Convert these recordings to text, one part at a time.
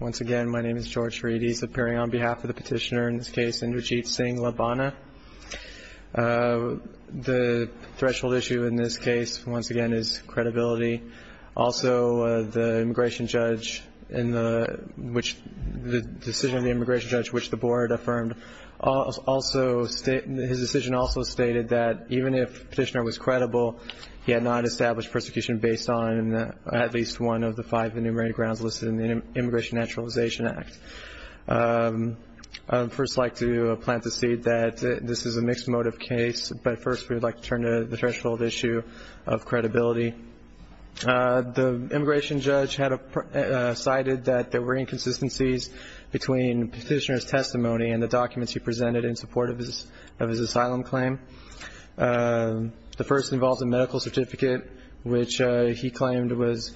Once again, my name is George Reedy, appearing on behalf of the petitioner in this case, Indrajit Singh Labana. The threshold issue in this case, once again, is credibility. Also, the decision of the immigration judge, which the board affirmed, his decision also stated that even if the petitioner was credible, he had not established persecution based on at least one of the five enumerated grounds listed in the Immigration Naturalization Act. First, I'd like to plant the seed that this is a mixed motive case, but first, we would like to turn to the threshold issue of credibility. The immigration judge had cited that there were inconsistencies between the petitioner's testimony and the documents he presented in support of his asylum claim. The first involved a medical certificate, which he claimed was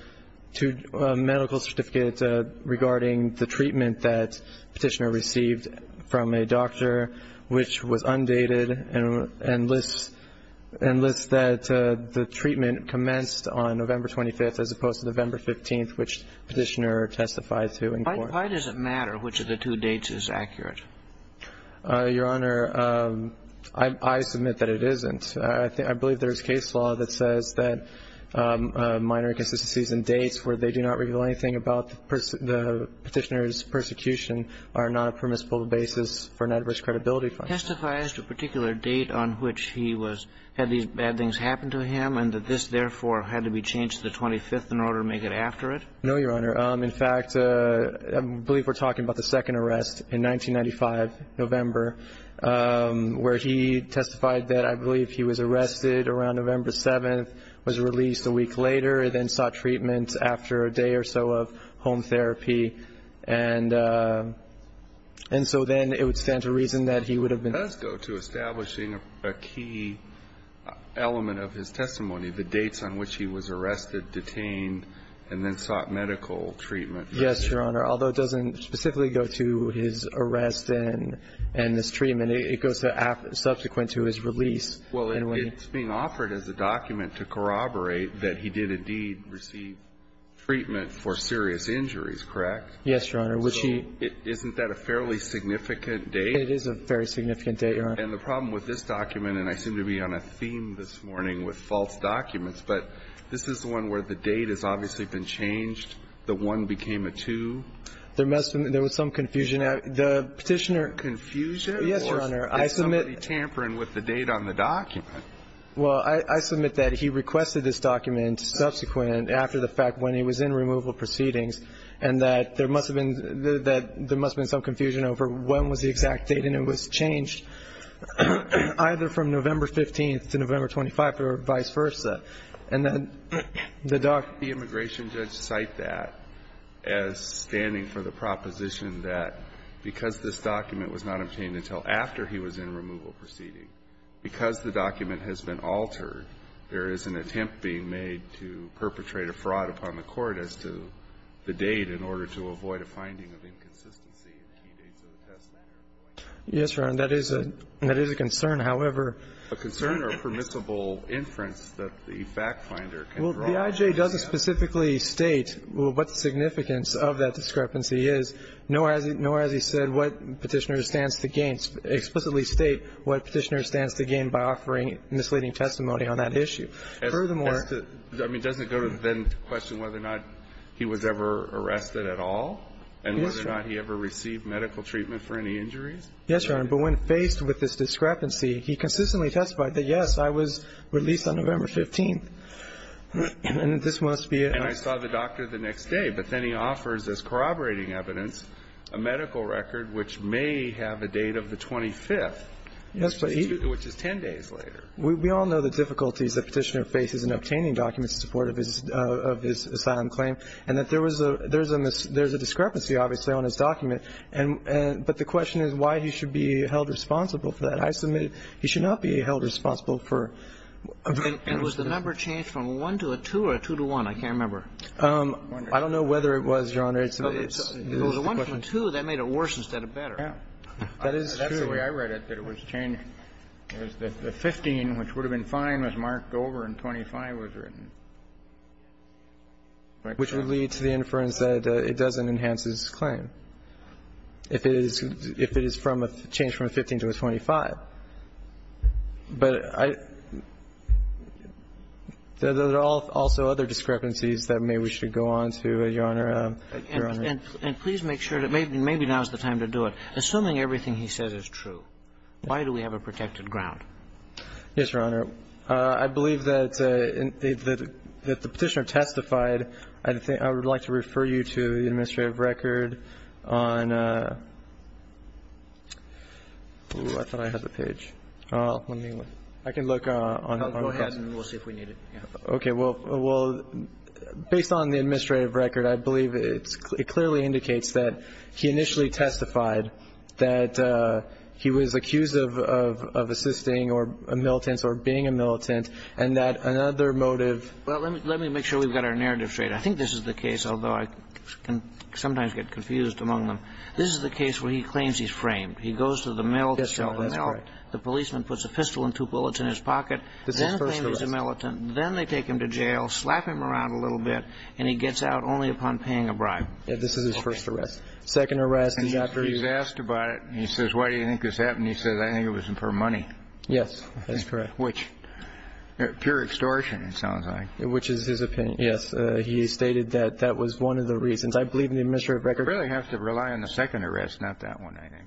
a medical certificate regarding the treatment that the petitioner received from a doctor, which was undated and lists that the treatment commenced on November 25, as opposed to November 15, which the petitioner testified to in court. Why does it matter which of the two dates is accurate? Your Honor, I submit that it isn't. I believe there is case law that says that minor inconsistencies in dates where they do not reveal anything about the petitioner's persecution are not a permissible basis for an adverse credibility function. Testifies to a particular date on which he was, had these bad things happen to him, and that this, therefore, had to be changed the 25th in order to make it after it? No, Your Honor. In fact, I believe we're talking about the second arrest in 1995, November, where he testified that I believe he was arrested around November 7, was released a week later, and then sought treatment after a day or so of home therapy. And so then it would stand to reason that he would have been. It does go to establishing a key element of his testimony, the dates on which he was arrested, detained, and then sought medical treatment. Yes, Your Honor, although it doesn't specifically go to his arrest and this treatment, and it goes to subsequent to his release. Well, it's being offered as a document to corroborate that he did indeed receive treatment for serious injuries, correct? Yes, Your Honor. So isn't that a fairly significant date? It is a very significant date, Your Honor. And the problem with this document, and I seem to be on a theme this morning with false documents, but this is the one where the date has obviously been changed, the 1 became a 2. There was some confusion. The petitioner. Confusion? Yes, Your Honor. I submit. Is somebody tampering with the date on the document? Well, I submit that he requested this document subsequent after the fact when he was in removal proceedings, and that there must have been some confusion over when was the exact date, and it was changed either from November 15th to November 25th or vice versa. And then the doc. The immigration judge cite that as standing for the proposition that because this document was not obtained until after he was in removal proceeding, because the document has been altered, there is an attempt being made to perpetrate a fraud upon the court as to the date in order to avoid a finding of inconsistency in the key dates of the test matter. Yes, Your Honor. That is a concern. However. A concern or permissible inference that the fact finder can draw. Well, the IJ doesn't specifically state what the significance of that discrepancy is. Nor has he said what Petitioner stands to gain. Explicitly state what Petitioner stands to gain by offering misleading testimony on that issue. Furthermore. I mean, doesn't it go to then question whether or not he was ever arrested at all? And whether or not he ever received medical treatment for any injuries? Yes, Your Honor. But when faced with this discrepancy, he consistently testified that, yes, I was released on November 15th. And this must be it. And I saw the doctor the next day. But then he offers as corroborating evidence a medical record which may have a date of the 25th, which is 10 days later. We all know the difficulties that Petitioner faces in obtaining documents in support of his asylum claim. And that there's a discrepancy, obviously, on his document. But the question is why he should be held responsible for that. I submit he should not be held responsible for arresting him. And was the number changed from a 1 to a 2 or a 2 to 1? I can't remember. I don't know whether it was, Your Honor. It's a question. Well, the 1 to 2, that made it worse instead of better. Yeah. That is true. That's the way I read it, that it was changed. It was that the 15, which would have been fine, was marked over and 25 was written. Which would lead to the inference that it doesn't enhance his claim. If it is from a change from a 15 to a 25. But there are also other discrepancies that maybe we should go on to, Your Honor. And please make sure that maybe now is the time to do it. Assuming everything he says is true, why do we have a protected ground? Yes, Your Honor. I believe that the Petitioner testified. I would like to refer you to the administrative record on the 1988, I think. I can look on that. Go ahead, and we'll see if we need it. Okay. Well, based on the administrative record, I believe it clearly indicates that he initially testified that he was accused of assisting or a militant or being a militant, and that another motive. Well, let me make sure we've got our narrative straight. I think this is the case, although I can sometimes get confused among them. This is the case where he claims he's framed. He goes to the mail cell. The policeman puts a pistol and two bullets in his pocket, then claims he's a militant. Then they take him to jail, slap him around a little bit, and he gets out only upon paying a bribe. Yeah, this is his first arrest. Second arrest, he got very used to it. He's asked about it, and he says, why do you think this happened? He says, I think it was for money. Yes, that's correct. Which, pure extortion, it sounds like. Which is his opinion, yes. He stated that that was one of the reasons. I believe in the administrative record. It really has to rely on the second arrest, not that one, I think.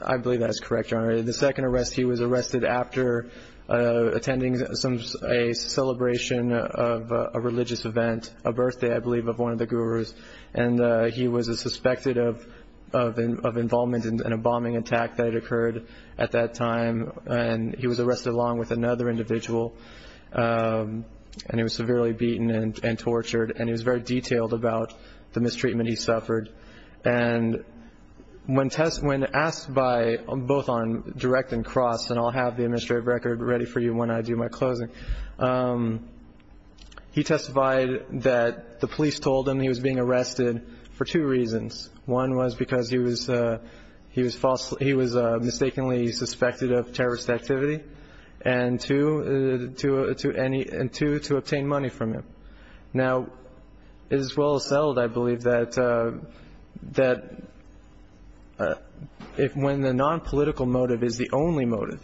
I believe that's correct, Your Honor. The second arrest, he was arrested after attending a celebration of a religious event, a birthday, I believe, of one of the gurus. And he was suspected of involvement in a bombing attack that had occurred at that time. And he was arrested along with another individual. And he was severely beaten and tortured. And he was very detailed about the mistreatment he suffered. And when asked by, both on direct and cross, and I'll have the administrative record ready for you when I do my closing, he testified that the police told him he was being arrested for two reasons. One was because he was mistakenly suspected of terrorist activity. And two, to obtain money from him. Now, it is well settled, I believe, that if when the non-political motive is the only motive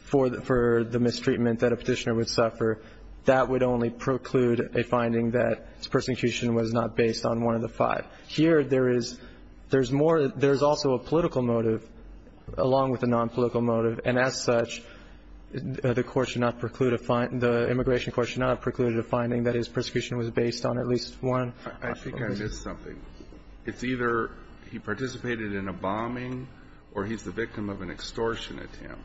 for the mistreatment that a petitioner would suffer, that would only preclude a finding that his persecution was not based on one of the five. Here, there is also a political motive along with a non-political motive. And as such, the immigration court should not preclude a finding that his persecution was based on at least one. I think I missed something. It's either he participated in a bombing or he's the victim of an extortion attempt.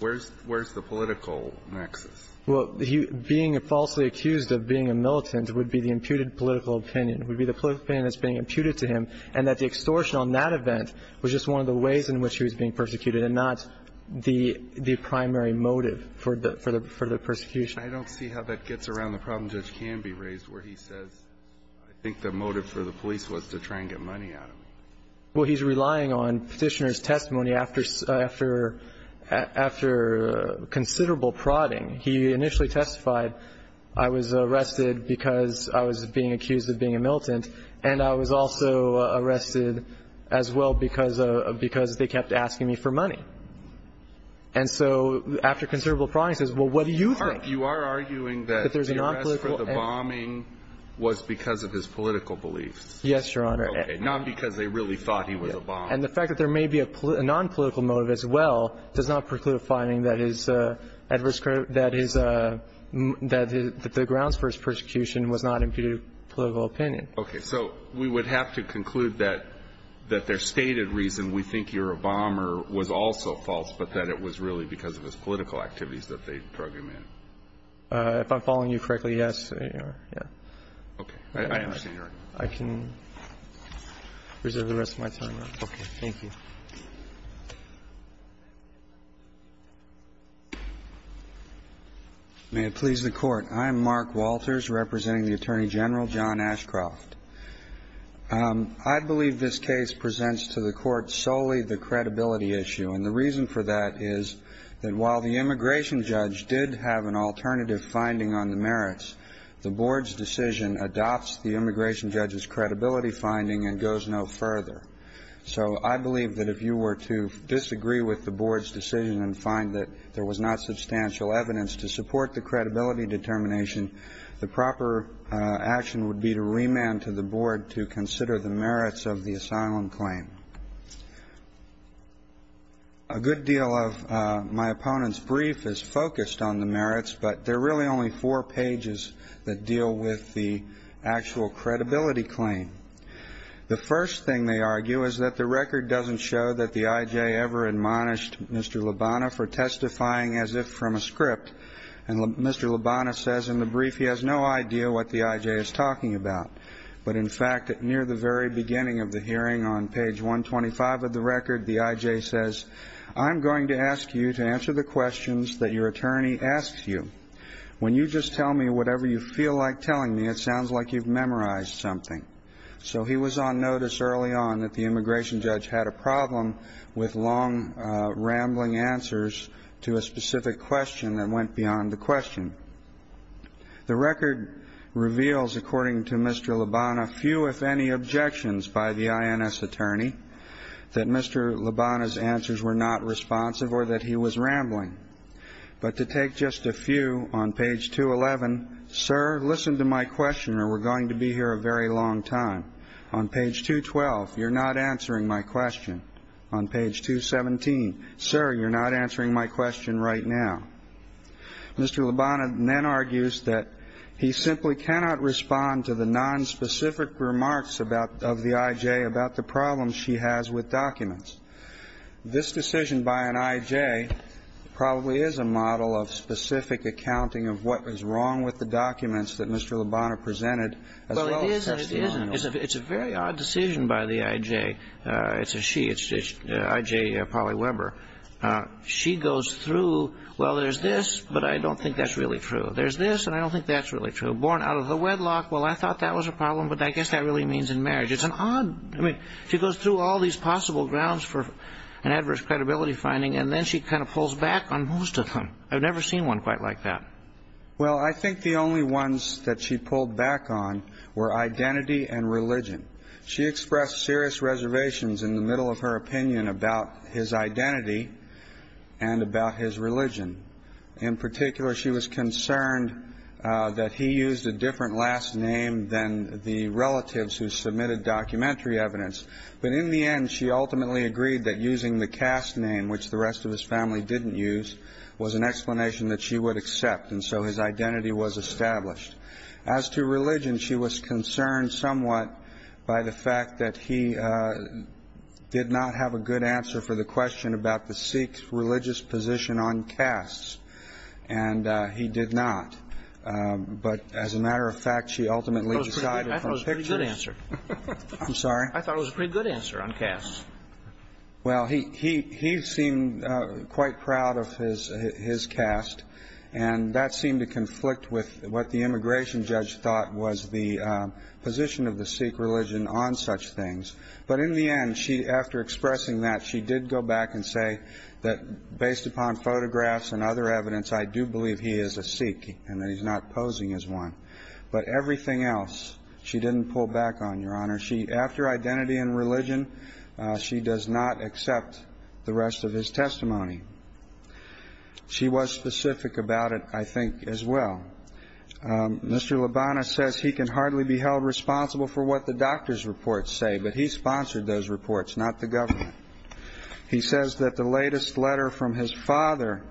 Where's the political nexus? Well, being falsely accused of being a militant would be the imputed political opinion. It would be the political opinion that's being imputed to him. And that the extortion on that event was just one of the ways in which he was being persecuted. And not the primary motive for the persecution. I don't see how that gets around the problem Judge Canby raised, where he says I think the motive for the police was to try and get money out of him. Well, he's relying on Petitioner's testimony after considerable prodding. He initially testified, I was arrested because I was being accused of being a militant. And I was also arrested as well because they kept asking me for money. And so, after considerable prodding, he says, well, what do you think? You are arguing that the arrest for the bombing was because of his political beliefs. Yes, Your Honor. Not because they really thought he was a bomb. And the fact that there may be a non-political motive as well does not preclude a finding that his adverse, that the grounds for his persecution was not imputed political opinion. Okay, so we would have to conclude that, that their stated reason, we think you're a bomber was also false. But that it was really because of his political activities that they drug him in. If I'm following you correctly, yes, Your Honor, yeah. Okay, I understand, Your Honor. I can reserve the rest of my time. Okay, thank you. May it please the Court. I'm Mark Walters, representing the Attorney General, John Ashcroft. I believe this case presents to the Court solely the credibility issue. And the reason for that is that while the immigration judge did have an alternative finding on the merits, the Board's decision adopts the immigration judge's credibility finding and goes no further. So I believe that if you were to disagree with the Board's decision and find that there was not substantial evidence to support the credibility determination, the proper action would be to remand to the Board to consider the merits of the asylum claim. A good deal of my opponent's brief is focused on the merits, but there are really only four pages that deal with the actual credibility claim. The first thing they argue is that the record doesn't show that the IJ ever admonished Mr. Lubana says in the brief he has no idea what the IJ is talking about. But in fact, near the very beginning of the hearing on page 125 of the record, the IJ says, I'm going to ask you to answer the questions that your attorney asks you. When you just tell me whatever you feel like telling me, it sounds like you've memorized something. So he was on notice early on that the immigration judge had a problem with long The record reveals, according to Mr. Lubana, few if any objections by the INS attorney that Mr. Lubana's answers were not responsive or that he was rambling. But to take just a few on page 211, sir, listen to my question or we're going to be here a very long time. On page 212, you're not answering my question. On page 217, sir, you're not answering my question right now. Mr. Lubana then argues that he simply cannot respond to the nonspecific remarks of the IJ about the problems she has with documents. This decision by an IJ probably is a model of specific accounting of what is wrong with the documents that Mr. Lubana presented. Well, it is and it isn't. It's a very odd decision by the IJ. It's a she, it's IJ Polly Weber. She goes through, well, there's this, but I don't think that's really true. There's this, and I don't think that's really true. Born out of the wedlock, well, I thought that was a problem, but I guess that really means in marriage. It's an odd, I mean, she goes through all these possible grounds for an adverse credibility finding, and then she kind of pulls back on most of them. I've never seen one quite like that. Well, I think the only ones that she pulled back on were identity and religion. She expressed serious reservations in the middle of her opinion about his identity and about his religion. In particular, she was concerned that he used a different last name than the relatives who submitted documentary evidence. But in the end, she ultimately agreed that using the caste name, which the rest of his family didn't use, was an explanation that she would accept, and so his identity was established. As to religion, she was concerned somewhat by the fact that he did not have a good answer for the question about the Sikhs' religious position on castes, and he did not. But as a matter of fact, she ultimately decided from pictures — I thought it was a pretty good answer. I'm sorry? I thought it was a pretty good answer on castes. Well, he seemed quite proud of his caste, and that seemed to conflict with what the immigration judge thought was the position of the Sikh religion on such things. But in the end, after expressing that, she did go back and say that, based upon photographs and other evidence, I do believe he is a Sikh and that he's not posing as one. But everything else, she didn't pull back on, Your Honor. After identity and religion, she does not accept the rest of his testimony. She was specific about it, I think, as well. Mr. Labana says he can hardly be held responsible for what the doctor's reports say, but he sponsored those reports, not the government. He says that the latest letter from his father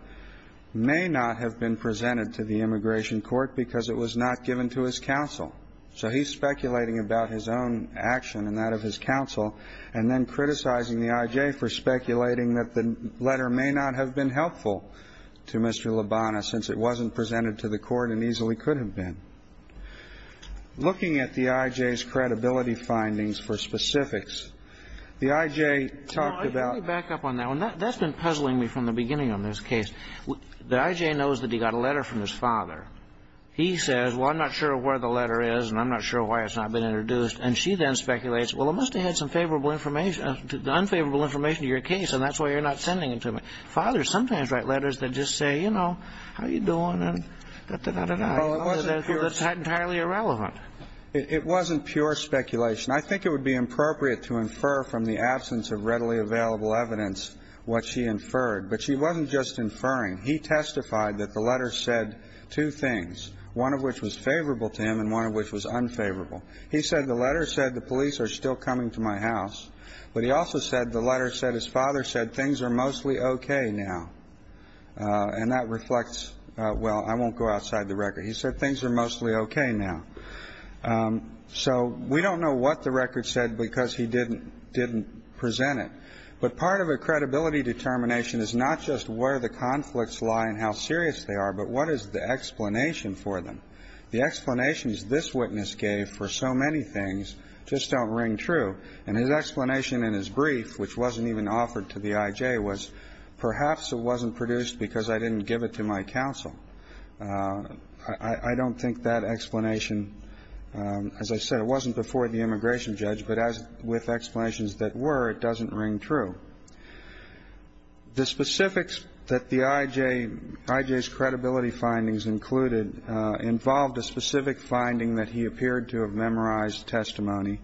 may not have been presented to the immigration court because it was not given to his counsel. So he's speculating about his own action and that of his counsel, and then criticizing the I.J. for speculating that the letter may not have been helpful to Mr. Labana since it wasn't presented to the court and easily could have been. Looking at the I.J.'s credibility findings for specifics, the I.J. talked about — Let me back up on that one. That's been puzzling me from the beginning on this case. The I.J. knows that he got a letter from his father. He says, well, I'm not sure where the letter is and I'm not sure why it's not been introduced. And she then speculates, well, it must have had some favorable information — unfavorable information to your case, and that's why you're not sending it to me. Fathers sometimes write letters that just say, you know, how are you doing and da, da, da, da, da, that's not entirely irrelevant. It wasn't pure speculation. I think it would be appropriate to infer from the absence of readily available evidence what she inferred, but she wasn't just inferring. He testified that the letter said two things, one of which was favorable to him and one of which was unfavorable. He said the letter said the police are still coming to my house. But he also said the letter said his father said things are mostly okay now. And that reflects — well, I won't go outside the record. He said things are mostly okay now. So we don't know what the record said because he didn't present it. But part of a credibility determination is not just where the conflicts lie and how serious they are, but what is the explanation for them. The explanations this witness gave for so many things just don't ring true. And his explanation in his brief, which wasn't even offered to the I.J., was perhaps it wasn't produced because I didn't give it to my counsel. I don't think that explanation — as I said, it wasn't before the immigration judge, but as with explanations that were, it doesn't ring true. The specifics that the I.J.'s credibility findings included involved a specific finding that he appeared to have memorized testimony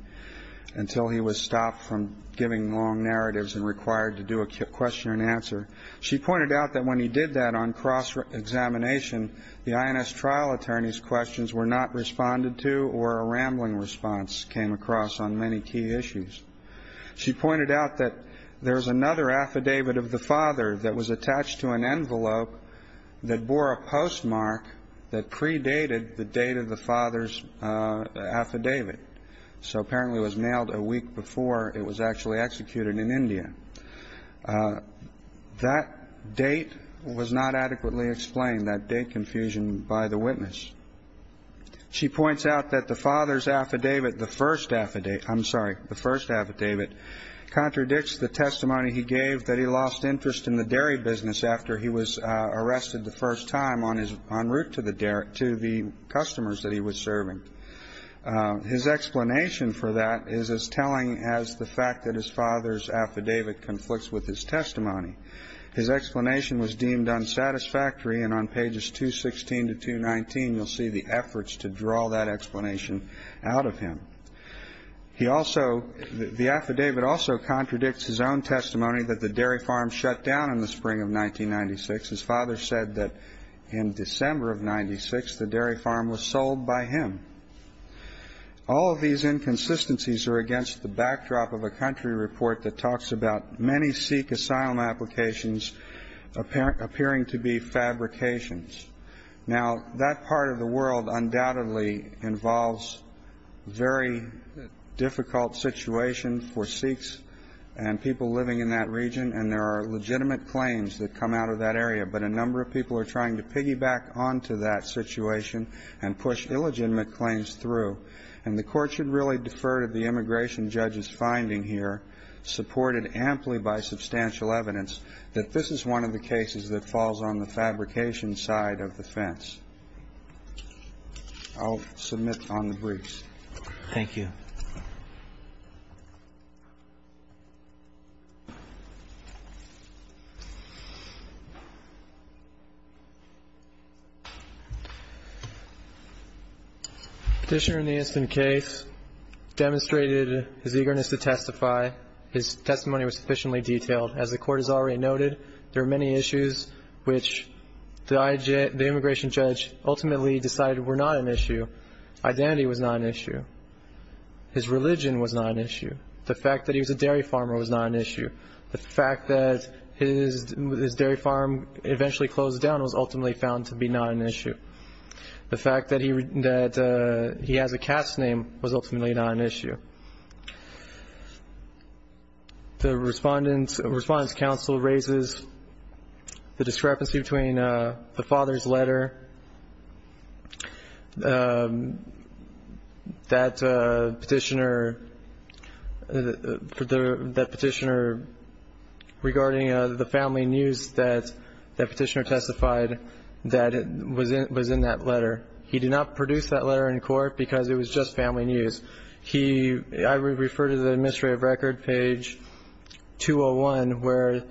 until he was stopped from giving long narratives and required to do a question and answer. She pointed out that when he did that on cross-examination, the I.N.S. trial attorney's responded to or a rambling response came across on many key issues. She pointed out that there's another affidavit of the father that was attached to an envelope that bore a postmark that predated the date of the father's affidavit. So apparently it was mailed a week before it was actually executed in India. That date was not adequately explained, that date confusion by the witness. She points out that the father's affidavit, the first affidavit — I'm sorry, the first affidavit contradicts the testimony he gave that he lost interest in the dairy business after he was arrested the first time on his — en route to the customers that he was serving. His explanation for that is as telling as the fact that his father's affidavit conflicts with his testimony. His explanation was deemed unsatisfactory, and on pages 216 to 219, you'll see the efforts to draw that explanation out of him. He also — the affidavit also contradicts his own testimony that the dairy farm shut down in the spring of 1996. His father said that in December of 96, the dairy farm was sold by him. All of these inconsistencies are against the backdrop of a country report that talks about many Sikh asylum applications appearing to be fabrications. Now, that part of the world undoubtedly involves a very difficult situation for Sikhs and people living in that region, and there are legitimate claims that come out of that area. But a number of people are trying to piggyback onto that situation and push illegitimate claims through. And the Court should really defer to the immigration judge's finding here, supported amply by substantial evidence, that this is one of the cases that falls on the fabrication side of the fence. I'll submit on the briefs. Thank you. Petitioner in the instant case demonstrated his eagerness to testify. His testimony was sufficiently detailed. As the Court has already noted, there are many issues which the immigration judge ultimately decided were not an issue. Identity was not an issue. His religion was not an issue. The fact that he was a dairy farmer was not an issue. The fact that his dairy farm eventually closed down was ultimately found to be not an issue. The fact that he has a cat's name was ultimately not an issue. The Respondent's Counsel raises the discrepancy between the father's letter, that petitioner regarding the family news that the petitioner testified that was in that letter. He did not produce that letter in court because it was just family news. He – I would refer to the administrative record, page 201, where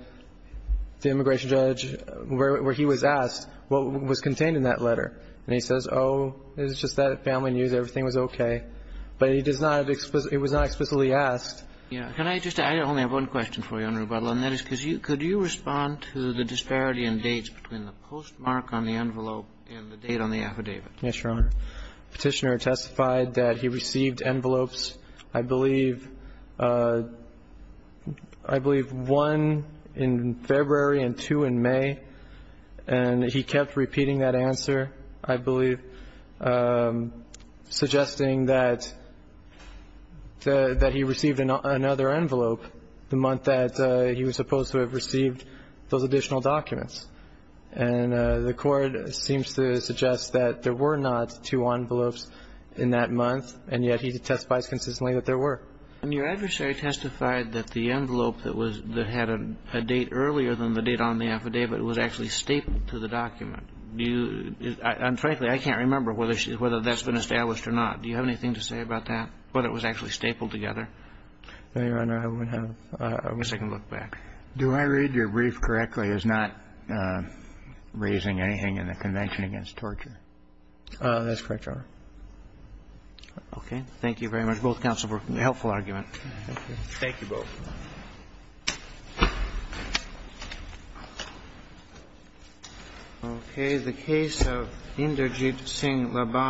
the immigration judge – where he was asked what was contained in that letter. And he says, oh, it was just that family news. Everything was okay. But he does not have – it was not explicitly asked. Yeah. Can I just – I only have one question for you, Your Honor, and that is could you respond to the disparity in dates between the postmark on the envelope and the date on the affidavit? Yes, Your Honor. Petitioner testified that he received envelopes, I believe – I believe one in February and two in May. And he kept repeating that answer, I believe, suggesting that he received another envelope the month that he was supposed to have received those additional documents. And the court seems to suggest that there were not two envelopes in that month, and yet he testifies consistently that there were. And your adversary testified that the envelope that was – that had a date earlier than the date on the affidavit was actually stapled to the document. Do you – and frankly, I can't remember whether she – whether that's been established or not. Do you have anything to say about that, whether it was actually stapled together? No, Your Honor. I would have a second look back. Do I read your brief correctly as not raising anything in the Convention Against Torture? That's correct, Your Honor. Okay. Thank you very much. Both counsels were helpful arguments. Thank you both. Okay. The case of Inderjit Singh Laban.